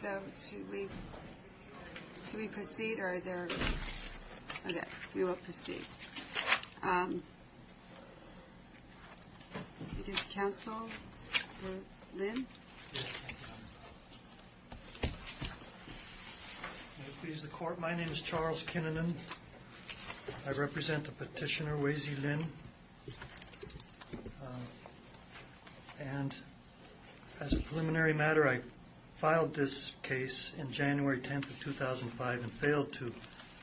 So, should we proceed or are there? Okay, we will proceed. It is counsel, Lynn. May it please the court, my name is Charles Kinnunen. I represent the petitioner, Wayze Lynn. And as a preliminary matter, I filed this case in January 10th of 2005 and failed to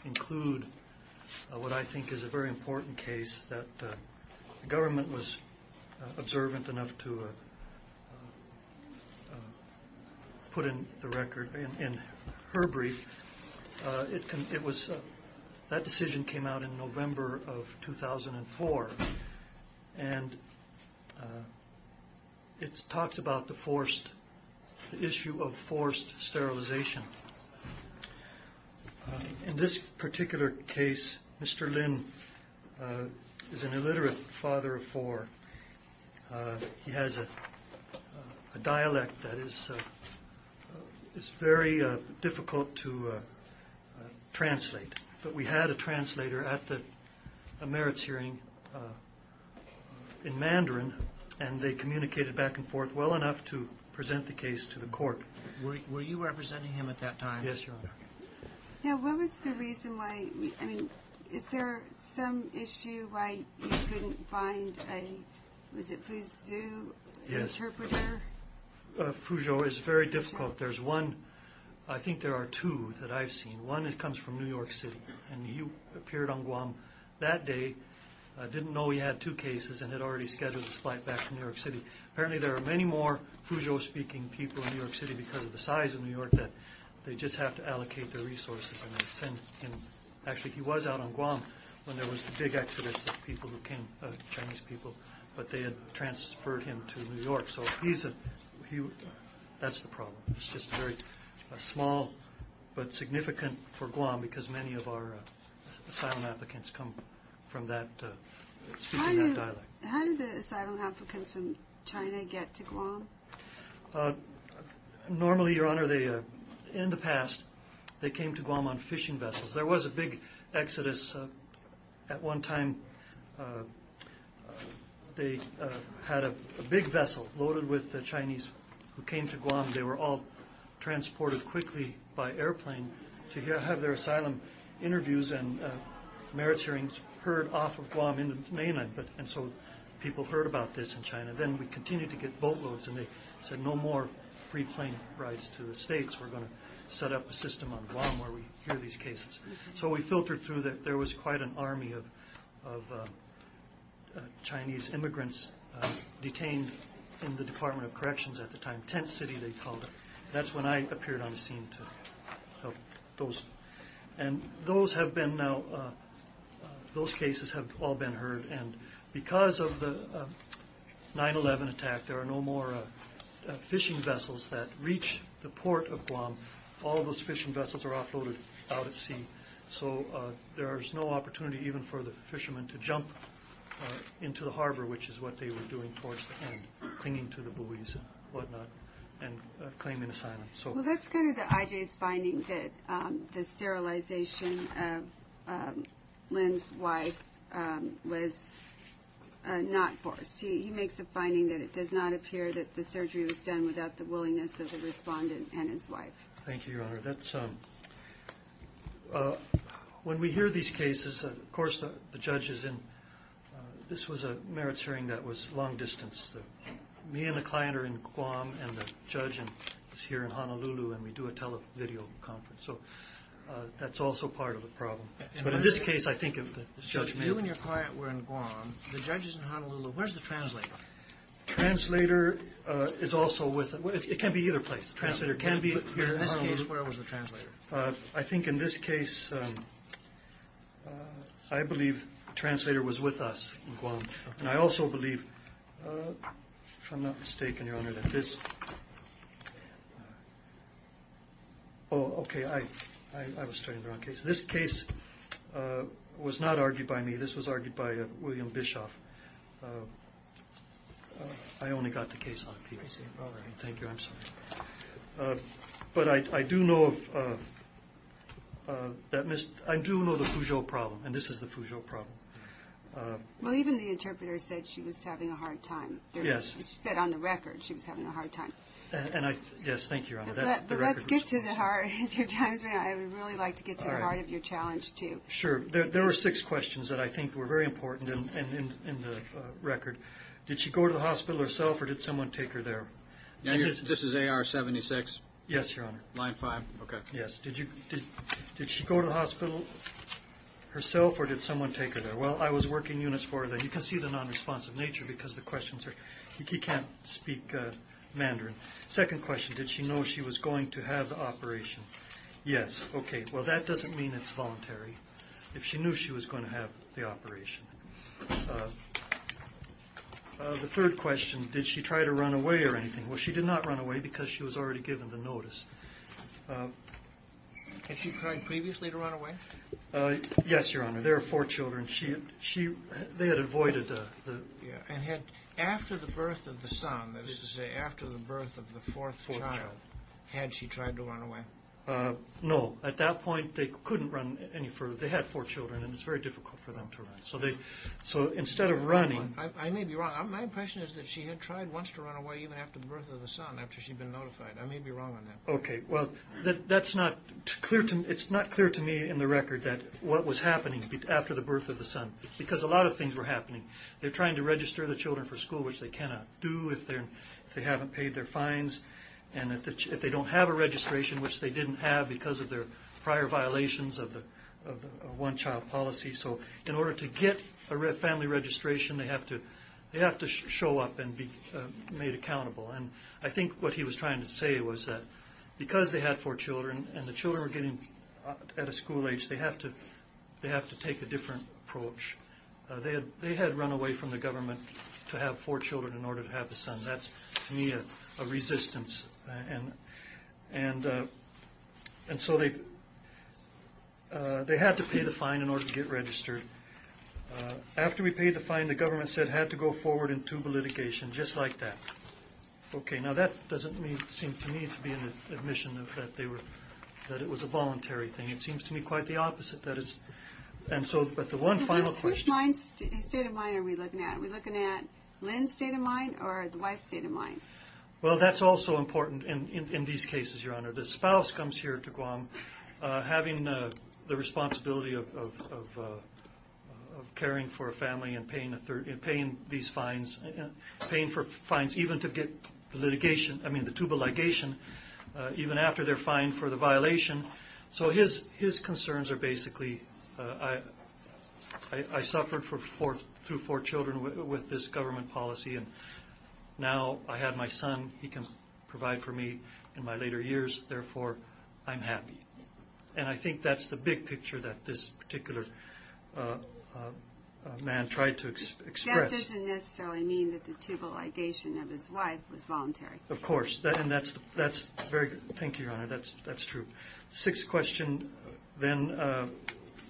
include what I think is a very important case that the government was observant enough to put in the record in her brief. That decision came out in November of 2004 and it talks about the issue of forced sterilization. In this particular case, Mr. Lynn is an illiterate father of four. He has a dialect that is very difficult to translate. But we had a translator at the merits hearing in Mandarin and they communicated back and forth well enough to present the case to the court. Were you representing him at that time? Yes, Your Honor. Now, what was the reason why, I mean, is there some issue why you couldn't find a, was it Fuzhou interpreter? Fuzhou is very difficult. There's one, I think there are two that I've seen. One comes from New York City and he appeared on Guam that day, didn't know he had two cases and had already scheduled his flight back to New York City. Apparently there are many more Fuzhou speaking people in New York City because of the size of New York that they just have to allocate their resources and send him. Actually, he was out on Guam when there was the big exodus of people who came, Chinese people, but they had transferred him to New York. So he's a, that's the problem. It's just very small but significant for Guam because many of our asylum applicants come from that, speaking that dialect. How did the asylum applicants from China get to Guam? Normally, Your Honor, they, in the past, they came to Guam on fishing vessels. There was a big exodus at one time. They had a big vessel loaded with Chinese who came to Guam. They were all transported quickly by airplane to have their asylum interviews and merits hearings heard off of Guam in the mainland. And so people heard about this in China. Then we continued to get boatloads and they said no more free plane rides to the States. We're going to set up a system on Guam where we hear these cases. So we filtered through that. There was quite an army of Chinese immigrants detained in the Department of Corrections at the time. Tent City, they called it. That's when I appeared on the scene to help those. And those have been now, those cases have all been heard. And because of the 9-11 attack, there are no more fishing vessels that reach the port of Guam. All those fishing vessels are offloaded out at sea. So there is no opportunity even for the fishermen to jump into the harbor, which is what they were doing towards the end, clinging to the buoys and whatnot and claiming asylum. Well, that's kind of the IJ's finding that the sterilization of Lin's wife was not forced. He makes a finding that it does not appear that the surgery was done without the willingness of the respondent and his wife. Thank you, Your Honor. When we hear these cases, of course the judge is in. This was a merits hearing that was long distance. Me and the client are in Guam, and the judge is here in Honolulu, and we do a video conference. So that's also part of the problem. But in this case, I think of the judge. You and your client were in Guam. The judge is in Honolulu. Where's the translator? The translator is also with us. It can be either place. The translator can be here in Honolulu. In this case, where was the translator? I think in this case, I believe the translator was with us in Guam. And I also believe, if I'm not mistaken, Your Honor, that this – oh, okay. I was studying the wrong case. This case was not argued by me. This was argued by William Bischoff. I only got the case on a PVC. All right. Thank you. I'm sorry. But I do know that – I do know the Foujou problem, and this is the Foujou problem. Well, even the interpreter said she was having a hard time. Yes. She said on the record she was having a hard time. Yes. Thank you, Your Honor. But let's get to the heart. As your time is running out, I would really like to get to the heart of your challenge, too. Sure. There were six questions that I think were very important in the record. Did she go to the hospital herself, or did someone take her there? This is AR-76. Yes, Your Honor. Line 5. Okay. Yes. Did she go to the hospital herself, or did someone take her there? Well, I was working units for her then. You can see the nonresponsive nature because the questions are – he can't speak Mandarin. Second question, did she know she was going to have the operation? Yes. Okay. Well, that doesn't mean it's voluntary. If she knew she was going to have the operation. The third question, did she try to run away or anything? Well, she did not run away because she was already given the notice. Had she tried previously to run away? Yes, Your Honor. There are four children. They had avoided the – And had – after the birth of the son, that is to say after the birth of the fourth child, had she tried to run away? No. At that point, they couldn't run any further. They had four children, and it's very difficult for them to run. So instead of running – I may be wrong. My impression is that she had tried once to run away even after the birth of the son, after she'd been notified. I may be wrong on that. Okay. Well, that's not clear to me in the record that what was happening after the birth of the son because a lot of things were happening. They're trying to register the children for school, which they cannot do if they haven't paid their fines, and if they don't have a registration, which they didn't have because of their prior violations of one-child policy. So in order to get a family registration, they have to show up and be made accountable. And I think what he was trying to say was that because they had four children and the children were getting – at a school age, they have to take a different approach. They had run away from the government to have four children in order to have the son. That's, to me, a resistance. And so they had to pay the fine in order to get registered. After we paid the fine, the government said it had to go forward into litigation just like that. Okay. Now that doesn't seem to me to be an admission that it was a voluntary thing. It seems to me quite the opposite. But the one final question. Which state of mind are we looking at? Are we looking at Lynn's state of mind or the wife's state of mind? Well, that's also important in these cases, Your Honor. The spouse comes here to Guam having the responsibility of caring for a family and paying these fines, paying for fines even to get litigation, I mean the tubal ligation, even after they're fined for the violation. So his concerns are basically I suffered through four children with this government policy and now I have my son. He can provide for me in my later years. Therefore, I'm happy. And I think that's the big picture that this particular man tried to express. That doesn't necessarily mean that the tubal ligation of his wife was voluntary. Of course. And that's very good. Thank you, Your Honor. That's true. The sixth question then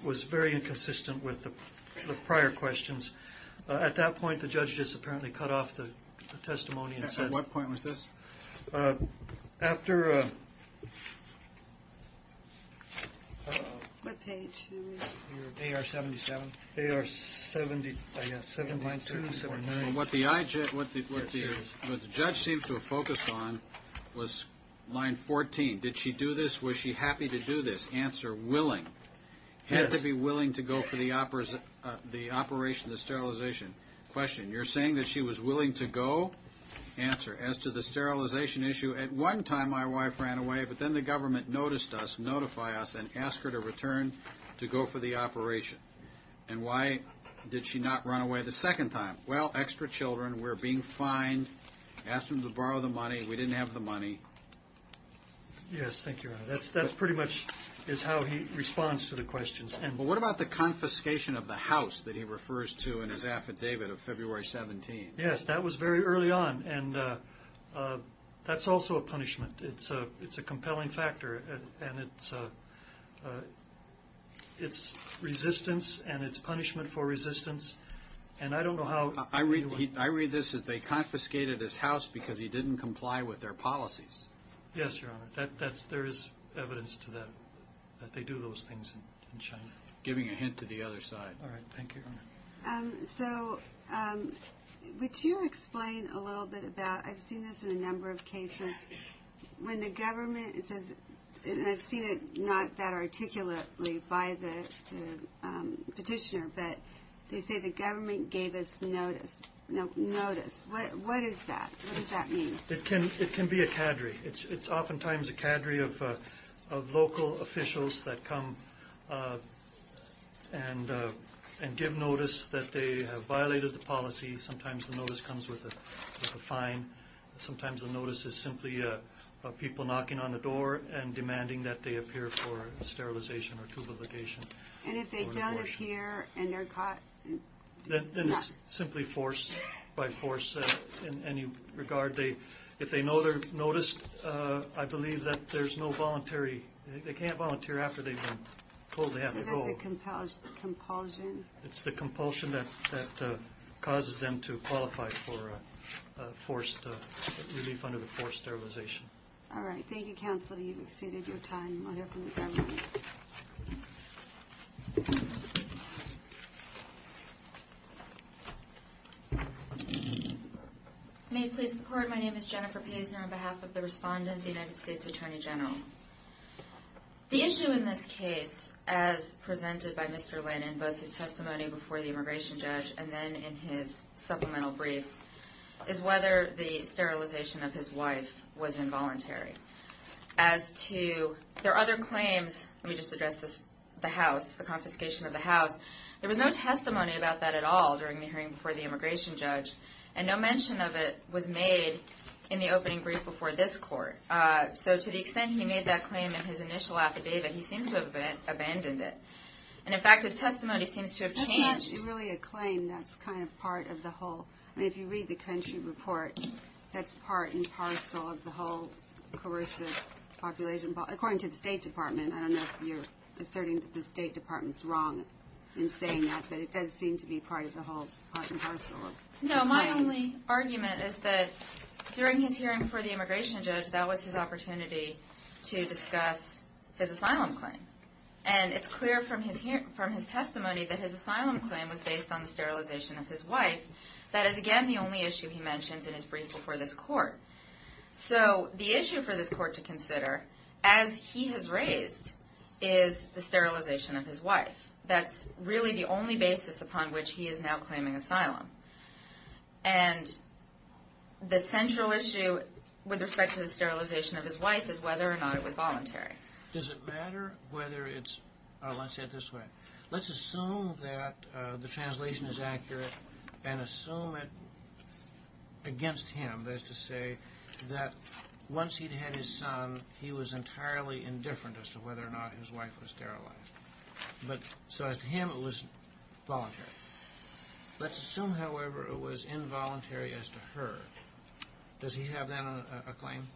was very inconsistent with the prior questions. At that point, the judge just apparently cut off the testimony and said. At what point was this? After AR-77. AR-77. What the judge seems to have focused on was line 14. Did she do this? Was she happy to do this? Answer, willing. Had to be willing to go for the operation, the sterilization. Question, you're saying that she was willing to go? Answer, as to the sterilization issue, at one time my wife ran away, but then the government noticed us, notified us, and asked her to return to go for the operation. And why did she not run away the second time? Well, extra children were being fined. Asked them to borrow the money. We didn't have the money. Yes, thank you, Your Honor. That pretty much is how he responds to the questions. Well, what about the confiscation of the house that he refers to in his affidavit of February 17? Yes, that was very early on, and that's also a punishment. It's a compelling factor, and it's resistance and it's punishment for resistance. And I don't know how. I read this as they confiscated his house because he didn't comply with their policies. Yes, Your Honor. But there is evidence that they do those things in China. Giving a hint to the other side. All right, thank you, Your Honor. So would you explain a little bit about, I've seen this in a number of cases, when the government says, and I've seen it not that articulately by the petitioner, but they say the government gave us notice. Notice, what is that? What does that mean? It can be a cadre. It's oftentimes a cadre of local officials that come and give notice that they have violated the policy. Sometimes the notice comes with a fine. Sometimes the notice is simply people knocking on the door and demanding that they appear for sterilization or tubaligation. And if they don't appear and they're caught? Then it's simply force by force in any regard. If they know they're noticed, I believe that there's no voluntary, they can't volunteer after they've been told they have to go. So that's a compulsion. It's the compulsion that causes them to qualify for forced relief under the forced sterilization. All right, thank you, Counselor. You've exceeded your time. I'll hear from the government. Thank you. May it please the Court, my name is Jennifer Paisner, on behalf of the respondent, the United States Attorney General. The issue in this case, as presented by Mr. Lynn in both his testimony before the immigration judge and then in his supplemental briefs, is whether the sterilization of his wife was involuntary. As to their other claims, let me just address this, the house, the confiscation of the house. There was no testimony about that at all during the hearing before the immigration judge, and no mention of it was made in the opening brief before this Court. So to the extent he made that claim in his initial affidavit, he seems to have abandoned it. And, in fact, his testimony seems to have changed. That's not really a claim. That's kind of part of the whole. I mean, if you read the country reports, that's part and parcel of the whole coercive population. According to the State Department, I don't know if you're asserting that the State Department's wrong in saying that, but it does seem to be part and parcel of the claim. No, my only argument is that during his hearing before the immigration judge, that was his opportunity to discuss his asylum claim. And it's clear from his testimony that his asylum claim was based on the sterilization of his wife. That is, again, the only issue he mentions in his brief before this Court. So the issue for this Court to consider, as he has raised, is the sterilization of his wife. That's really the only basis upon which he is now claiming asylum. And the central issue with respect to the sterilization of his wife is whether or not it was voluntary. Does it matter whether it's – let's say it this way. Let's assume that the translation is accurate and assume it against him, that is to say, that once he'd had his son, he was entirely indifferent as to whether or not his wife was sterilized. So as to him, it was voluntary. Let's assume, however, it was involuntary as to her. Does he have that on a claim?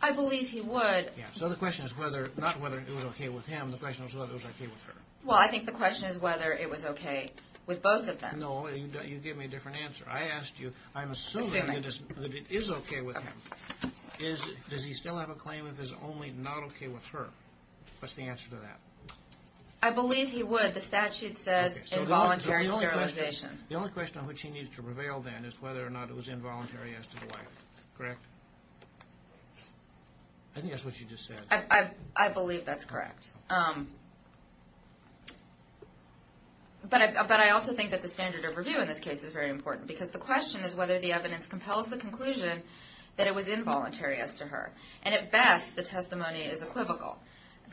I believe he would. So the question is not whether it was okay with him. The question is whether it was okay with her. Well, I think the question is whether it was okay with both of them. No, you gave me a different answer. I asked you, I'm assuming that it is okay with him. Does he still have a claim that it is only not okay with her? What's the answer to that? I believe he would. The statute says involuntary sterilization. The only question on which he needs to prevail then is whether or not it was involuntary as to the wife. Correct? I think that's what you just said. I believe that's correct. But I also think that the standard of review in this case is very important because the question is whether the evidence compels the conclusion that it was involuntary as to her. And at best, the testimony is equivocal.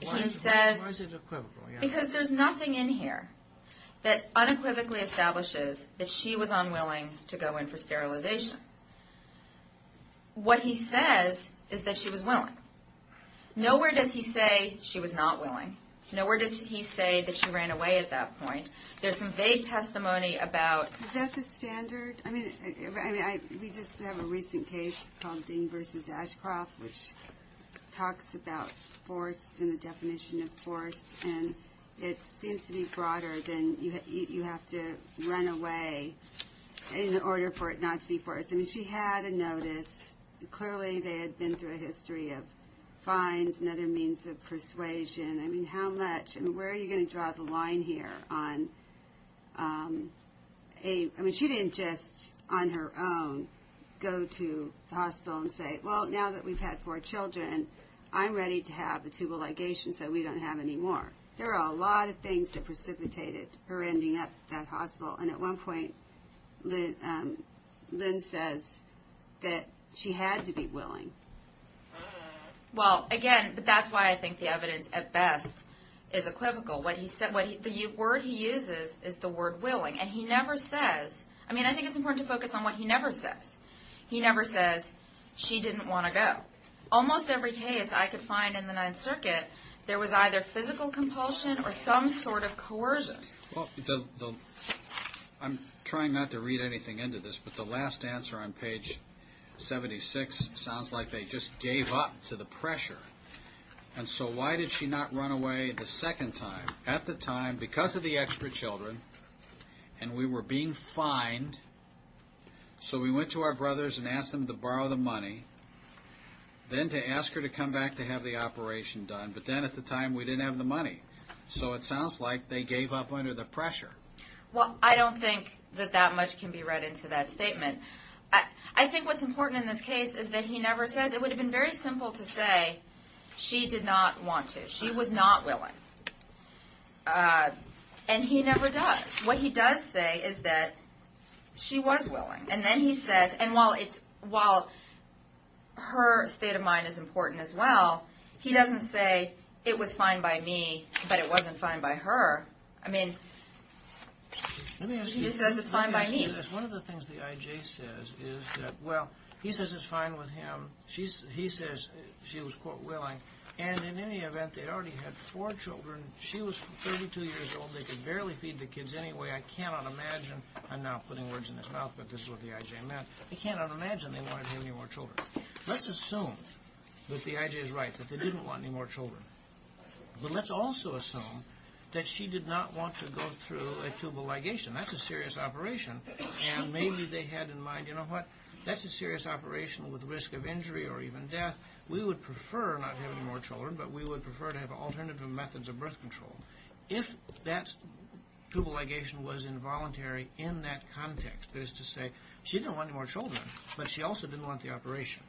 Why is it equivocal? Because there's nothing in here that unequivocally establishes that she was unwilling to go in for sterilization. What he says is that she was willing. Nowhere does he say she was not willing. Nowhere does he say that she ran away at that point. There's some vague testimony about... Is that the standard? I mean, we just have a recent case called Dean v. Ashcroft, which talks about forced and the definition of forced, and it seems to be broader than you have to run away in order for it not to be forced. I mean, she had a notice. Clearly, they had been through a history of fines and other means of persuasion. I mean, how much? I mean, where are you going to draw the line here on a... I mean, she didn't just, on her own, go to the hospital and say, well, now that we've had four children, I'm ready to have a tubal ligation so we don't have any more. There are a lot of things that precipitated her ending up at that hospital, and at one point Lynn says that she had to be willing. Well, again, that's why I think the evidence at best is equivocal. The word he uses is the word willing, and he never says... I mean, I think it's important to focus on what he never says. He never says she didn't want to go. Almost every case I could find in the Ninth Circuit, there was either physical compulsion or some sort of coercion. Well, I'm trying not to read anything into this, but the last answer on page 76 sounds like they just gave up to the pressure. And so why did she not run away the second time? At the time, because of the extra children, and we were being fined, so we went to our brothers and asked them to borrow the money, then to ask her to come back to have the operation done, but then at the time we didn't have the money. So it sounds like they gave up under the pressure. Well, I don't think that that much can be read into that statement. I think what's important in this case is that he never says. It would have been very simple to say she did not want to. She was not willing, and he never does. What he does say is that she was willing. And then he says, and while her state of mind is important as well, he doesn't say it was fine by me, but it wasn't fine by her. I mean, he says it's fine by me. Let me ask you this. One of the things the I.J. says is that, well, he says it's fine with him. He says she was, quote, willing. And in any event, they already had four children. She was 32 years old. They could barely feed the kids anyway. I cannot imagine. I'm now putting words in his mouth, but this is what the I.J. meant. I cannot imagine they wanted to have any more children. Let's assume that the I.J. is right, that they didn't want any more children. But let's also assume that she did not want to go through a tubal ligation. That's a serious operation. And maybe they had in mind, you know what, that's a serious operation with risk of injury or even death. We would prefer not to have any more children, but we would prefer to have alternative methods of birth control. If that tubal ligation was involuntary in that context, that is to say, she didn't want any more children, but she also didn't want the operation.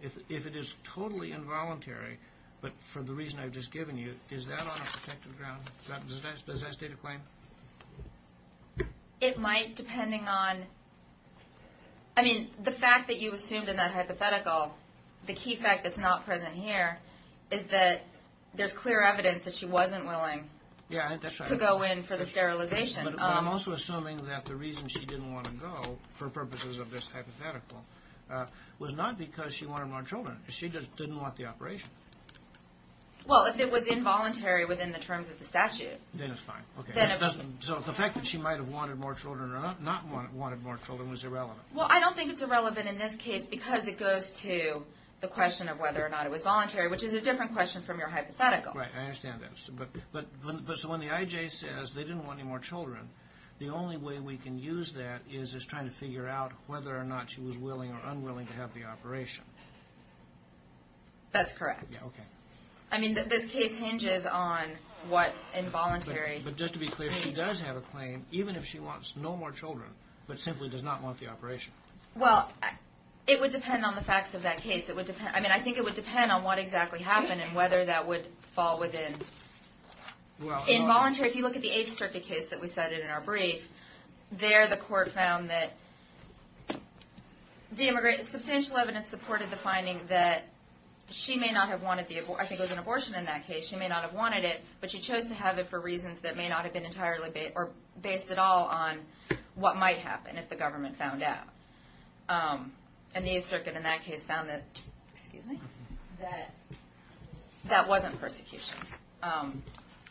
If it is totally involuntary, but for the reason I've just given you, is that on a protected ground? Does that state a claim? It might, depending on, I mean, the fact that you assumed in that hypothetical, the key fact that's not present here, is that there's clear evidence that she wasn't willing to go in for the sterilization. But I'm also assuming that the reason she didn't want to go, for purposes of this hypothetical, was not because she wanted more children. She just didn't want the operation. Well, if it was involuntary within the terms of the statute. Then it's fine. So the fact that she might have wanted more children or not wanted more children was irrelevant. Well, I don't think it's irrelevant in this case, because it goes to the question of whether or not it was voluntary, which is a different question from your hypothetical. Right, I understand that. But when the IJ says they didn't want any more children, the only way we can use that is as trying to figure out whether or not she was willing or unwilling to have the operation. That's correct. Okay. I mean, this case hinges on what involuntary means. But just to be clear, she does have a claim, even if she wants no more children, but simply does not want the operation. Well, it would depend on the facts of that case. I mean, I think it would depend on what exactly happened and whether that would fall within involuntary. If you look at the Eighth Circuit case that we cited in our brief, there the court found that substantial evidence supported the finding that she may not have wanted the abortion. I think it was an abortion in that case. She may not have wanted it, but she chose to have it for reasons that may not have been entirely based or based at all on what might happen if the government found out. And the Eighth Circuit in that case found that wasn't persecution.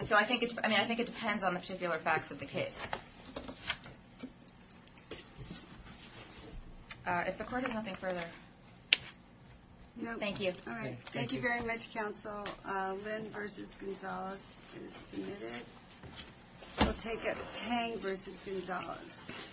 So I think it depends on the particular facts of the case. If the court has nothing further. Thank you. All right. Thank you very much, counsel. Lynn v. Gonzalez is submitted. We'll take it. Tang v. Gonzalez.